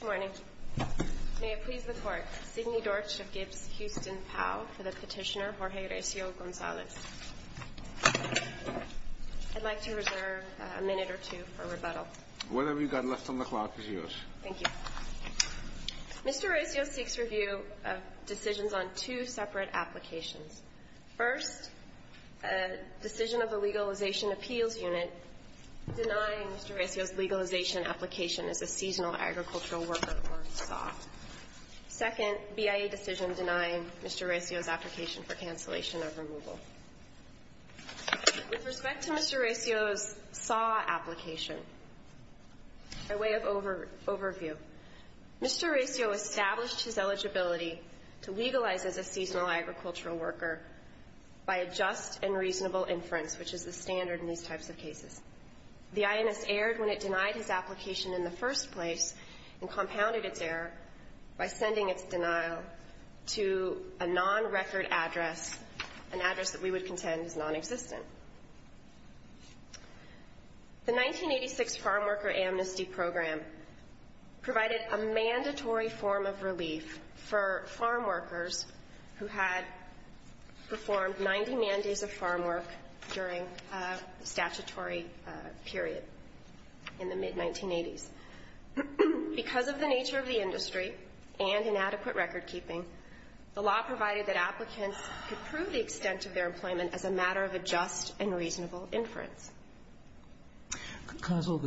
Good morning. May it please the Court, Sidney Dortch of Gibbs-Houston POW for the petitioner Jorge Recio-Gonzalez. I'd like to reserve a minute or two for rebuttal. Whatever you've got left on the clock is yours. Thank you. Mr. Recio seeks review of decisions on two separate applications. First, a decision of the Legalization Appeals Unit denying Mr. Recio's legalization application as a seasonal agricultural worker for SAW. Second, BIA decision denying Mr. Recio's application for cancellation of removal. With respect to Mr. Recio's SAW application, a way of overview, Mr. Recio established his eligibility to legalize as a seasonal agricultural worker by a just and reasonable inference, which is the standard in these types of cases. The INS erred when it denied his application in the first place and compounded its error by sending its denial to a non-record address, an address that we would contend is nonexistent. The 1986 Farmworker Amnesty Program provided a mandatory form of relief for farmworkers who had performed 90 man days of farmwork during a statutory period in the mid-1980s. Because of the nature of the industry and inadequate recordkeeping, the law provided that applicants could prove the extent of their employment as a matter of a just and reasonable inference. Counsel,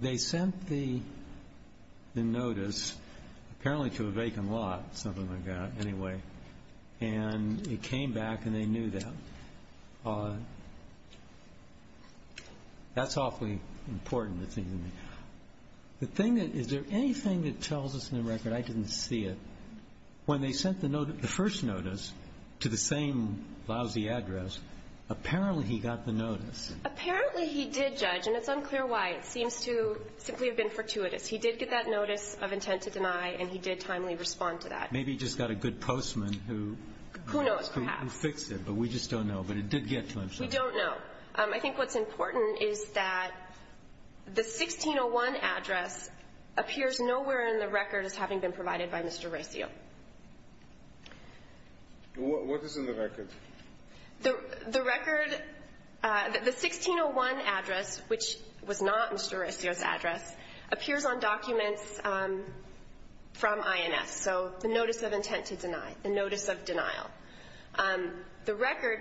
they sent the notice, apparently to a vacant lot, something like that, anyway, and it came back and they knew that. That's awfully important. The thing is, is there anything that tells us in the record, I didn't see it, when they sent the first notice to the same lousy address, apparently he got the notice. Apparently he did, Judge, and it's unclear why. It seems to simply have been fortuitous. He did get that notice of intent to deny, and he did timely respond to that. Maybe he just got a good postman who fixed it, but we just don't know. But it did get to him. We don't know. I think what's important is that the 1601 address appears nowhere in the record as having been provided by Mr. Recio. What is in the record? The record, the 1601 address, which was not Mr. Recio's address, appears on documents from INS, so the notice of intent to deny, the notice of denial. The record,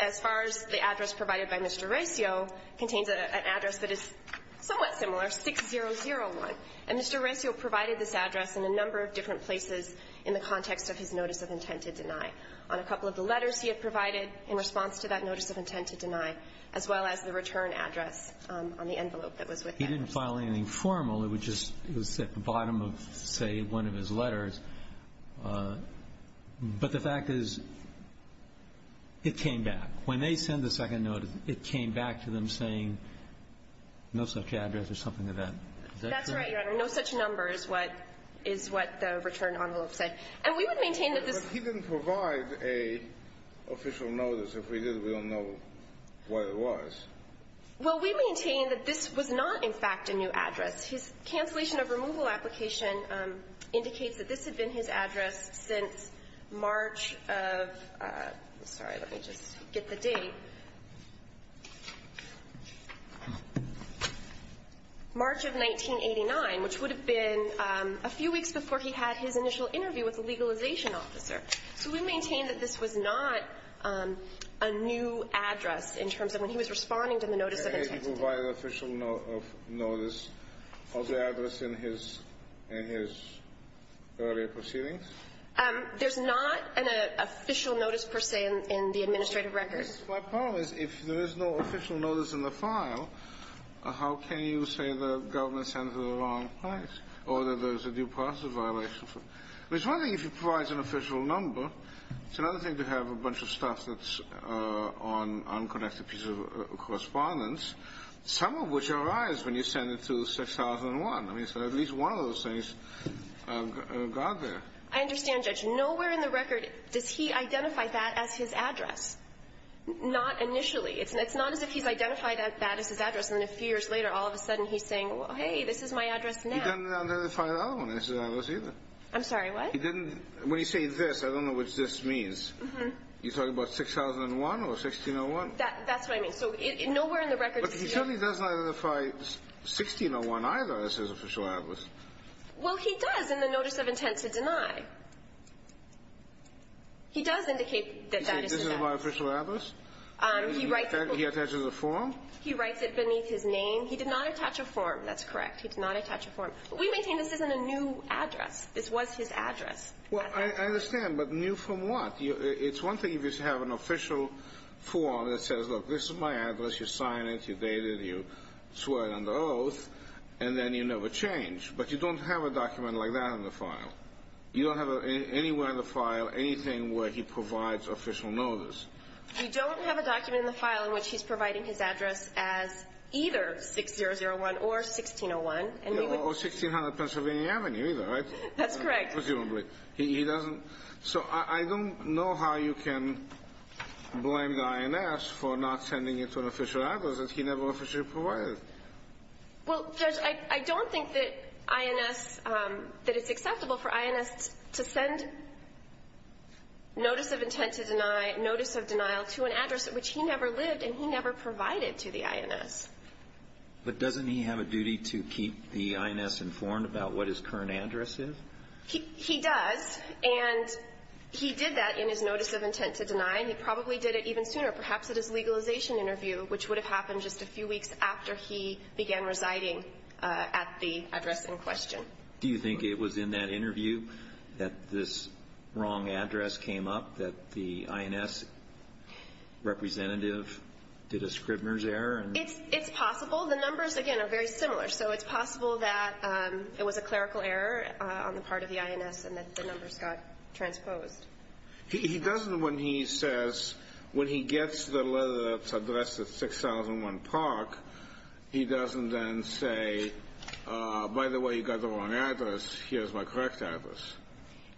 as far as the address provided by Mr. Recio, contains an address that is somewhat similar, 6001. And Mr. Recio provided this address in a number of different places in the context of his notice of intent to deny. On a couple of the letters he had provided in response to that notice of intent to deny, as well as the return address on the envelope that was with him. He didn't file anything formal. It was just at the bottom of, say, one of his letters. But the fact is, it came back. When they sent the second notice, it came back to them saying, no such address or something like that. Is that correct? That's right, Your Honor. No such number is what the return envelope said. And we would maintain that this was not a new address. But he didn't provide an official notice. If he did, we don't know what it was. Well, we maintain that this was not, in fact, a new address. His cancellation of removal application indicates that this had been his address since March of 1989, which would have been a few weeks before he had his initial interview with the legalization officer. So we maintain that this was not a new address in terms of when he was responding to the notice of intent to deny. Did he provide an official notice of the address in his earlier proceedings? There's not an official notice, per se, in the administrative records. My problem is, if there is no official notice in the file, how can you say the government sent it at the wrong place or that there's a due process violation? It's one thing if he provides an official number. It's another thing to have a bunch of stuff that's on unconnected pieces of correspondence, some of which arise when you send it to 6001. I mean, so at least one of those things got there. I understand, Judge. Nowhere in the record does he identify that as his address, not initially. It's not as if he's identified that as his address, and then a few years later, all of a sudden he's saying, well, hey, this is my address now. He didn't identify the other one as his address, either. I'm sorry, what? He didn't. When you say this, I don't know what this means. You're talking about 6001 or 1601? That's what I mean. So nowhere in the record does he know. But he certainly doesn't identify 1601, either, as his official address. Well, he does in the notice of intent to deny. He does indicate that that is his address. He says this is my official address? He writes it beneath his name. He did not attach a form. That's correct. He did not attach a form. But we maintain this isn't a new address. This was his address. Well, I understand. But new from what? It's one thing if you have an official form that says, look, this is my address. You sign it, you date it, you swear it under oath, and then you never change. But you don't have a document like that in the file. You don't have anywhere in the file anything where he provides official notice. We don't have a document in the file in which he's providing his address as either 6001 or 1601. Or 1600 Pennsylvania Avenue, either. That's correct. Presumably. He doesn't. So I don't know how you can blame the INS for not sending it to an official address that he never officially provided. Well, Judge, I don't think that INS, that it's acceptable for INS to send notice of intent to deny, notice of denial to an address at which he never lived and he never provided to the INS. But doesn't he have a duty to keep the INS informed about what his current address is? He does. And he did that in his notice of intent to deny. And he probably did it even sooner, perhaps at his legalization interview, which would have happened just a few weeks after he began residing at the address in question. Do you think it was in that interview that this wrong address came up, that the INS representative did a Scribner's error? It's possible. The numbers, again, are very similar. So it's possible that it was a clerical error on the part of the INS and that the numbers got transposed. He doesn't, when he says, when he gets the letter that's addressed at 6001 Park, he doesn't then say, by the way, you got the wrong address, here's my correct address.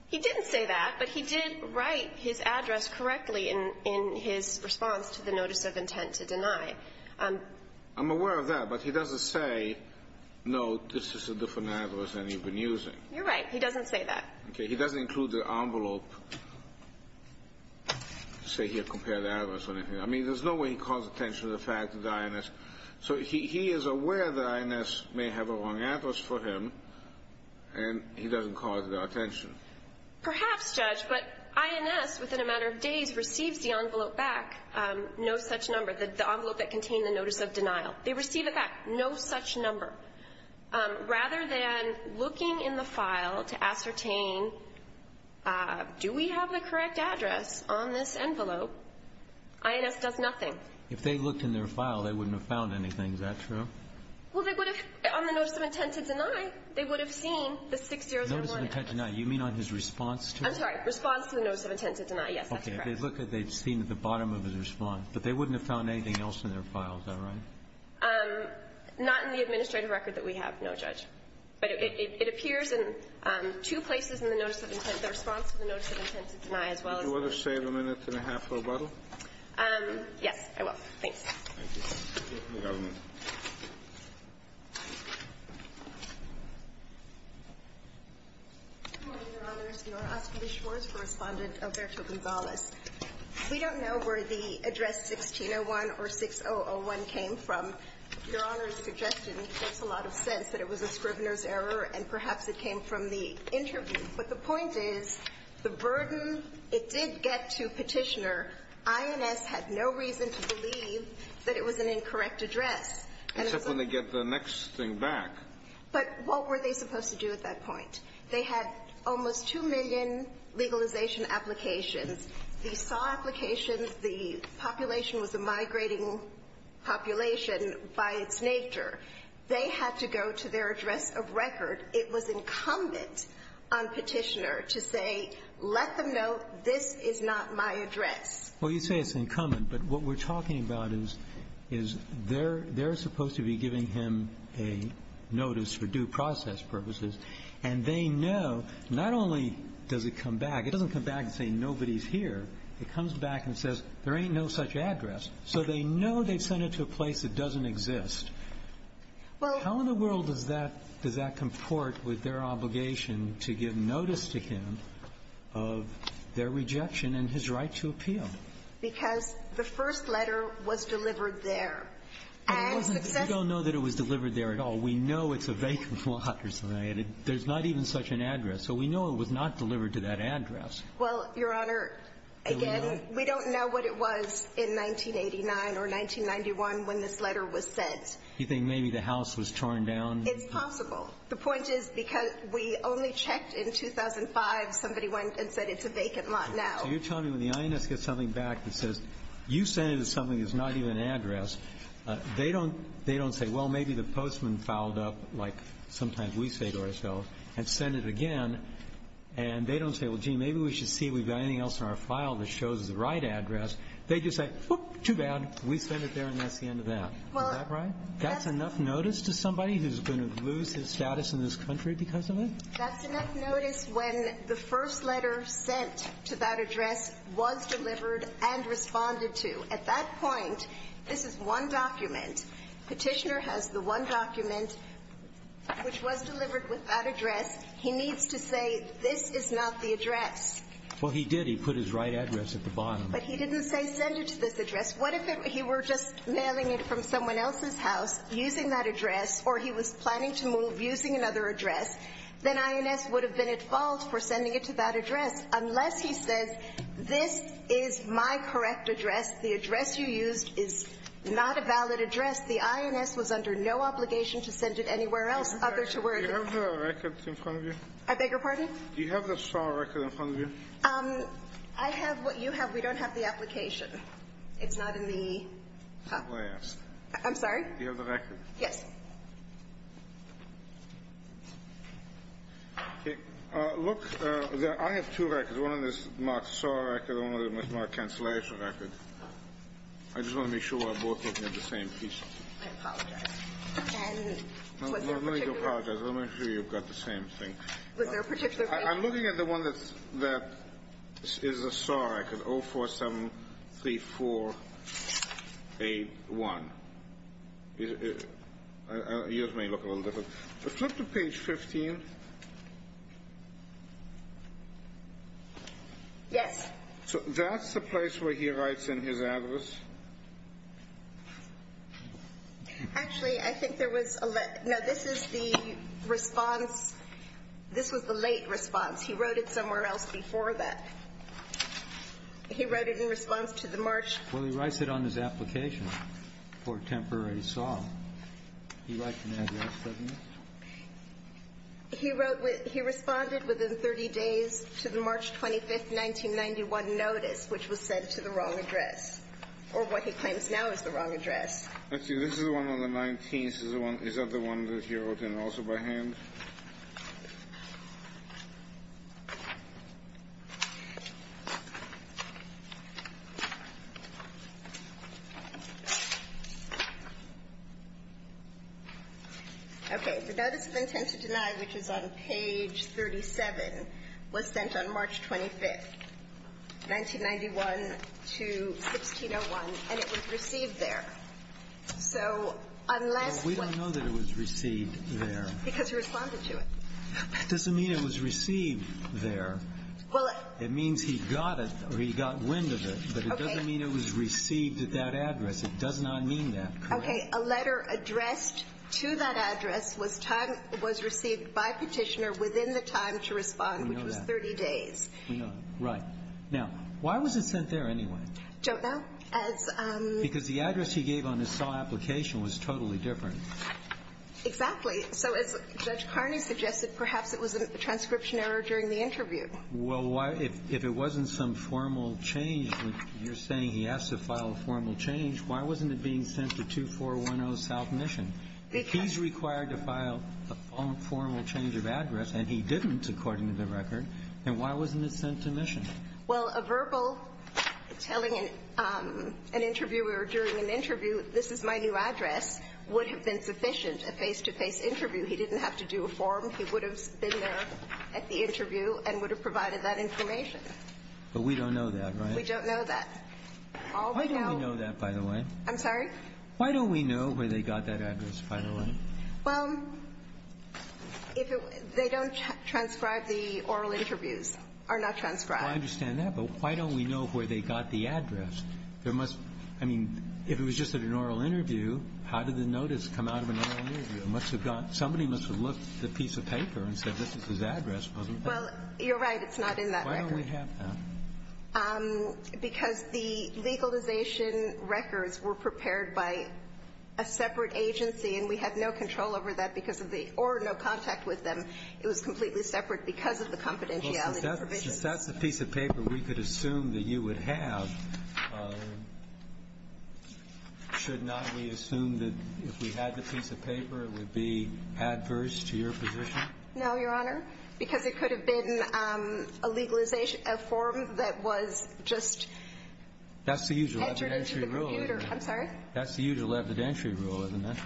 He didn't say that, but he did write his address correctly in his response to the notice of intent to deny. I'm aware of that, but he doesn't say, no, this is a different address than you've been using. You're right. He doesn't say that. Okay. He doesn't include the envelope to say, here, compare the address or anything. I mean, there's no way he calls attention to the fact that the INS. So he is aware that INS may have a wrong address for him, and he doesn't call it to their attention. Perhaps, Judge, but INS, within a matter of days, receives the envelope back, no such number, the envelope that contained the notice of denial. They receive it back, no such number. Rather than looking in the file to ascertain, do we have the correct address on this envelope, INS does nothing. If they looked in their file, they wouldn't have found anything. Is that true? Well, they would have, on the notice of intent to deny, they would have seen the 6001. Notice of intent to deny. You mean on his response to it? I'm sorry. Response to the notice of intent to deny. Yes, that's correct. Okay. If they look at it, they've seen at the bottom of his response. But they wouldn't have found anything else in their file. Is that right? Not in the administrative record that we have, no, Judge. But it appears in two places in the notice of intent, the response to the notice of intent to deny, as well as the notice of intent to deny. Did you ever save a minute and a half for a bottle? Yes, I will. Thanks. Thank you. The government. Good morning, Your Honors. Your Honor, Ashley B. Schwartz, correspondent, Alberto Gonzalez. We don't know where the address 1601 or 6001 came from. Your Honor's suggestion makes a lot of sense, that it was a scrivener's error, and perhaps it came from the interview. But the point is, the burden, it did get to Petitioner. INS had no reason to believe that it was an incorrect address. Except when they get the next thing back. But what were they supposed to do at that point? They had almost 2 million legalization applications. They saw applications. The population was a migrating population by its nature. They had to go to their address of record. It was incumbent on Petitioner to say, let them know this is not my address. Well, you say it's incumbent. But what we're talking about is they're supposed to be giving him a notice for due process purposes. And they know, not only does it come back, it doesn't come back and say nobody's here. It comes back and says there ain't no such address. So they know they've sent it to a place that doesn't exist. How in the world does that comport with their obligation to give notice to him of their rejection and his right to appeal? Because the first letter was delivered there. And successfully We don't know that it was delivered there at all. We know it's a vacant lot or something. There's not even such an address. So we know it was not delivered to that address. Well, Your Honor, again, we don't know what it was in 1989 or 1991 when this letter was sent. You think maybe the house was torn down? It's possible. The point is because we only checked in 2005. Somebody went and said it's a vacant lot now. So you're telling me when the INS gets something back that says you sent it to something that's not even an address, they don't say, well, maybe the postman fouled up, like sometimes we say to ourselves, and sent it again. And they don't say, well, gee, maybe we should see if we've got anything else in our file that shows the right address. They just say, whoop, too bad. We sent it there, and that's the end of that. Is that right? That's enough notice to somebody who's going to lose his status in this country because of it? That's enough notice when the first letter sent to that address was delivered and responded to. At that point, this is one document. Petitioner has the one document which was delivered with that address. He needs to say this is not the address. Well, he did. He put his right address at the bottom. But he didn't say send it to this address. What if he were just mailing it from someone else's house, using that address, or he was planning to move using another address? Then INS would have been at fault for sending it to that address. Unless he says this is my correct address, the address you used is not a valid address, the INS was under no obligation to send it anywhere else other to where it is. Do you have the record in front of you? I beg your pardon? Do you have the file record in front of you? I have what you have. We don't have the application. It's not in the file. I'm sorry? Do you have the record? Yes. Okay. Look, I have two records. One of them is my SAAR record and one of them is my cancellation record. I just want to make sure we're both looking at the same piece. I apologize. And was there a particular one? I'm not going to apologize. I want to make sure you've got the same thing. Was there a particular one? I'm looking at the one that is a SAAR record, 0473481. Yours may look a little different. Flip to page 15. Yes. So that's the place where he writes in his address? Actually, I think there was a let --" no, this is the response. This was the late response. He wrote it somewhere else before that. He wrote it in response to the March --" Well, he writes it on his application for temporary SAAR. He writes it in his address, doesn't he? He wrote with --"He responded within 30 days to the March 25, 1991 notice, which was sent to the wrong address." Or what he claims now is the wrong address. Let's see. This is the one on the 19th. Is that the one that he wrote in also by hand? Okay. The notice of intent to deny, which is on page 37, was sent on March 25, 1991 to 1601, and it was received there. So unless we --" Well, we don't know that it was received there. Because he responded to it. That doesn't mean it was received there. Well, it --" It means he got it or he got wind of it, but it doesn't mean it was received at that address. It does not mean that. Correct? Okay. A letter addressed to that address was time --" was received by Petitioner within the time to respond, which was 30 days. We know that. We know that. Right. Now, why was it sent there anyway? Don't know. As --" Because the address he gave on his SAAR application was totally different. Exactly. So as Judge Carney suggested, perhaps it was a transcription error during the interview. Well, why --" If it wasn't some formal change, you're saying he has to file a formal change, why wasn't it being sent to 2410 South Mission? Because --" He's required to file a formal change of address, and he didn't, according to the record. Then why wasn't it sent to Mission? Well, a verbal telling an interviewer during an interview, this is my new address, would have been sufficient, a face-to-face interview. He didn't have to do a form. He would have been there at the interview and would have provided that information. But we don't know that, right? We don't know that. All we know --" I'm sorry? Why don't we know where they got that address, by the way? Well, if it was --" They don't transcribe the oral interviews, or not transcribe. I understand that. But why don't we know where they got the address? There must --" I mean, if it was just at an oral interview, how did the notice come out of an oral interview? It must have gone --" Somebody must have looked at the piece of paper and said, this is his address, wasn't it? Well, you're right. It's not in that record. Why don't we have that? Because the legalization records were prepared by a separate agency, and we had no control over that because of the or no contact with them. It was completely separate because of the confidentiality provisions. Well, since that's the piece of paper we could assume that you would have, should not we assume that if we had the piece of paper it would be adverse to your position? No, Your Honor. Because it could have been a legalization, a form that was just entered into the computer. That's the usual evidentiary rule, isn't it? I'm sorry? That's the usual evidentiary rule, isn't it?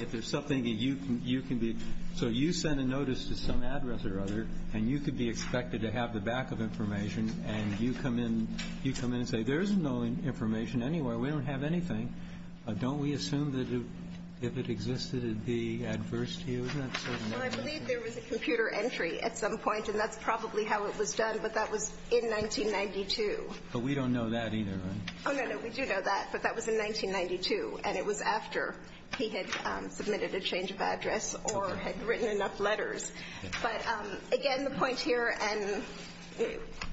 If there's something that you can be --" So you send a notice to some address or other, and you could be expected to have the back of information, and you come in and say, there's no information anywhere. We don't have anything. Isn't that certain information? Well, I believe there was a computer entry at some point, and that's probably how it was done, but that was in 1992. But we don't know that either, right? Oh, no, no. We do know that, but that was in 1992, and it was after he had submitted a change of address or had written enough letters. But, again, the point here, and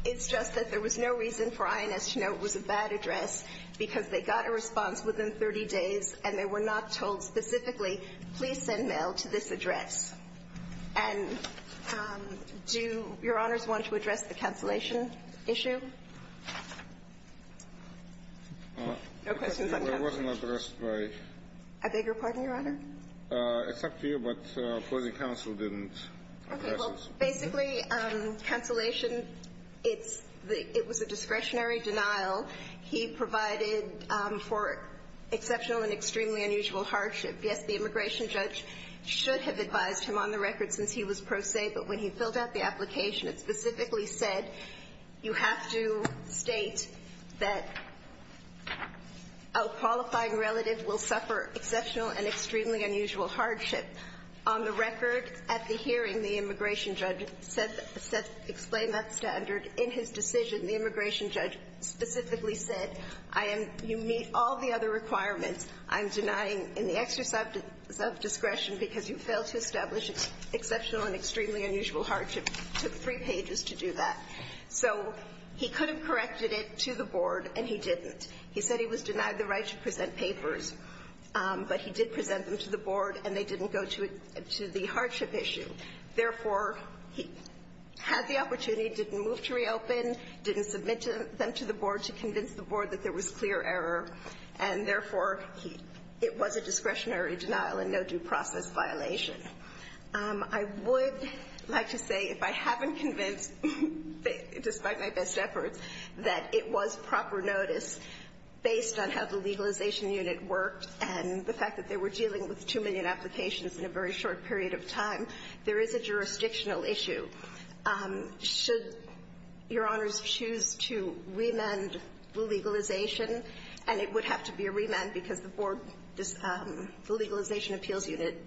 it's just that there was no reason for INS to know it was a bad address because they got a response within 30 days, and they were not told specifically, please send mail to this address. And do Your Honors want to address the cancellation issue? No questions on that? It wasn't addressed by ---- I beg your pardon, Your Honor? It's up to you, but opposing counsel didn't address it. Okay. Well, basically, cancellation, it's the ---- it was a discretionary denial. He provided for exceptional and extremely unusual hardship. Yes, the immigration judge should have advised him on the record since he was pro se, but when he filled out the application, it specifically said, you have to state that a qualifying relative will suffer exceptional and extremely unusual hardship. On the record, at the hearing, the immigration judge said to explain that standard. In his decision, the immigration judge specifically said, I am ---- you meet all the other requirements. I'm denying in the exercise of discretion because you failed to establish exceptional and extremely unusual hardship. It took three pages to do that. So he could have corrected it to the board, and he didn't. He said he was denied the right to present papers, but he did present them to the board, and they didn't go to the hardship issue. Therefore, he had the opportunity, didn't move to reopen, didn't submit them to the board to convince the board that there was clear error, and therefore, he ---- it was a discretionary denial and no due process violation. I would like to say, if I haven't convinced, despite my best efforts, that it was proper notice based on how the legalization unit worked and the fact that they were dealing with two million applications in a very short period of time, there is a jurisdictional issue. Should Your Honors choose to remand the legalization, and it would have to be a remand because the board ---- the legalization appeals unit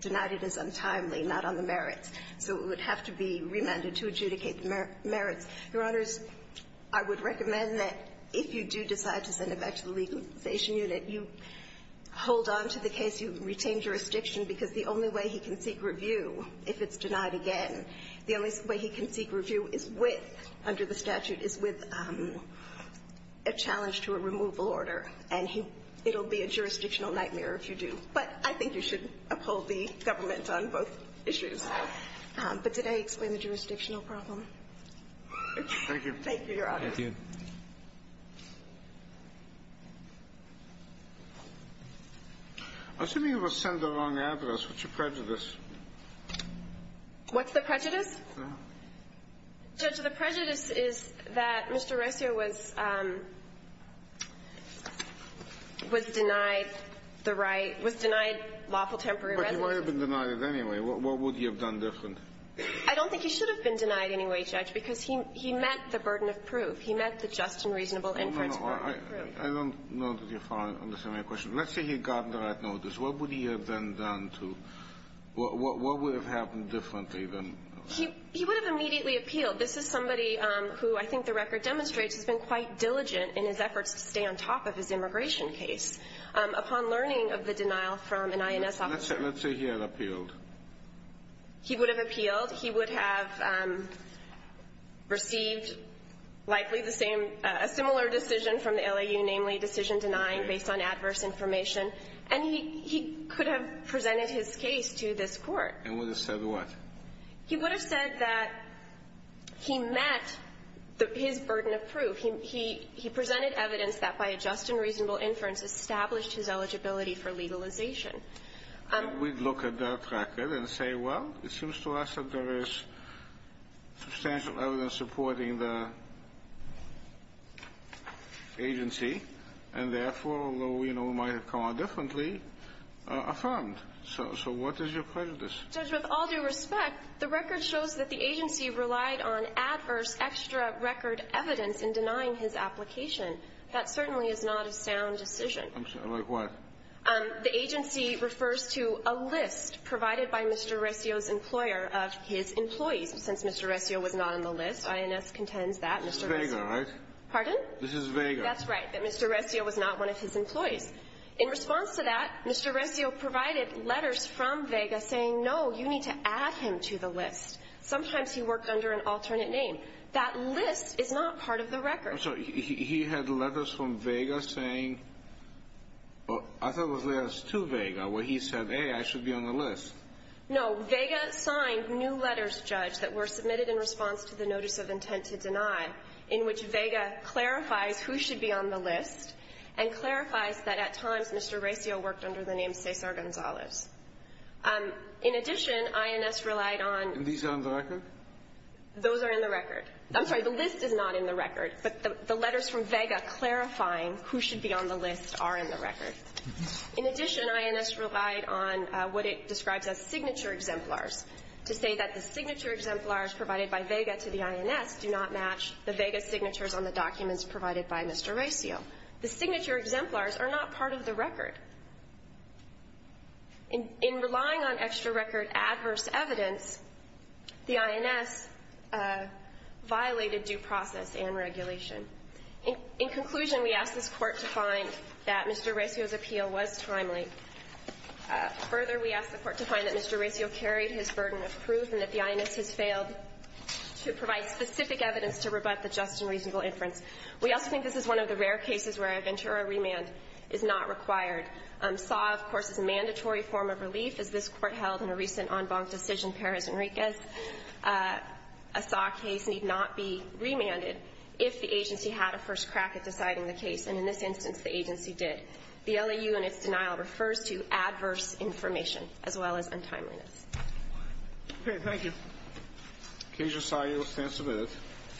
denied it as untimely, not on the merits. So it would have to be remanded to adjudicate the merits. Your Honors, I would recommend that if you do decide to send it back to the legalization unit, you hold on to the case, you retain jurisdiction, because the only way he can seek review if it's denied again, the only way he can seek review is with, under the statute, is with a challenge to a removal order. And he ---- it will be a jurisdictional nightmare if you do. But I think you should uphold the government on both issues. But did I explain the jurisdictional problem? Thank you. Thank you, Your Honors. Thank you. Assuming it was sent along the average, what's your prejudice? What's the prejudice? No. Judge, the prejudice is that Mr. Resio was ---- was denied the right ---- was denied lawful temporary residence. But he might have been denied it anyway. What would he have done different? I don't think he should have been denied anyway, Judge, because he met the burden of proof. He met the just and reasonable inference burden of proof. No, no. I don't know that you understand my question. Let's say he got the right notice. What would he have then done to ---- what would have happened differently than ---- He would have immediately appealed. This is somebody who I think the record demonstrates has been quite diligent in his efforts to stay on top of his immigration case upon learning of the denial from an INS officer. Let's say he had appealed. He would have appealed. He would have received likely the same ---- a similar decision from the LAU, namely decision denying based on adverse information. And he could have presented his case to this court. And would have said what? He would have said that he met his burden of proof. He presented evidence that by a just and reasonable inference established his eligibility for legalization. We'd look at that record and say, well, it seems to us that there is substantial evidence supporting the agency, and therefore, although we know it might have come out differently, affirmed. So what is your prejudice? Judge, with all due respect, the record shows that the agency relied on adverse extra record evidence in denying his application. That certainly is not a sound decision. Like what? The agency refers to a list provided by Mr. Rescio's employer of his employees. Since Mr. Rescio was not on the list, INS contends that Mr. Rescio ---- This is Vega, right? Pardon? This is Vega. That's right. That Mr. Rescio was not one of his employees. In response to that, Mr. Rescio provided letters from Vega saying, no, you need to add him to the list. Sometimes he worked under an alternate name. That list is not part of the record. I'm sorry. He had letters from Vega saying ---- I thought it was letters to Vega where he said, hey, I should be on the list. No. Vega signed new letters, Judge, that were submitted in response to the notice of intent to deny, in which Vega clarifies who should be on the list and clarifies that at times Mr. Rescio worked under the name Cesar Gonzalez. In addition, INS relied on ---- And these are on the record? Those are in the record. I'm sorry. The list is not in the record. But the letters from Vega clarifying who should be on the list are in the record. In addition, INS relied on what it describes as signature exemplars to say that the signature exemplars provided by Vega to the INS do not match the Vega signatures on the documents provided by Mr. Rescio. The signature exemplars are not part of the record. In relying on extra record adverse evidence, the INS violated due process and regulation. In conclusion, we ask this Court to find that Mr. Rescio's appeal was timely. Further, we ask the Court to find that Mr. Rescio carried his burden of proof and that the INS has failed to provide specific evidence to rebut the just and reasonable inference. We also think this is one of the rare cases where a Ventura remand is not required. SAW, of course, is a mandatory form of relief, as this Court held in a recent en banc decision, Perez Enriquez. A SAW case need not be remanded if the agency had a first crack at deciding the case. And in this instance, the agency did. The LAU in its denial refers to adverse information, as well as untimeliness. Okay. Thank you. Casio, SAW, you're abstentive.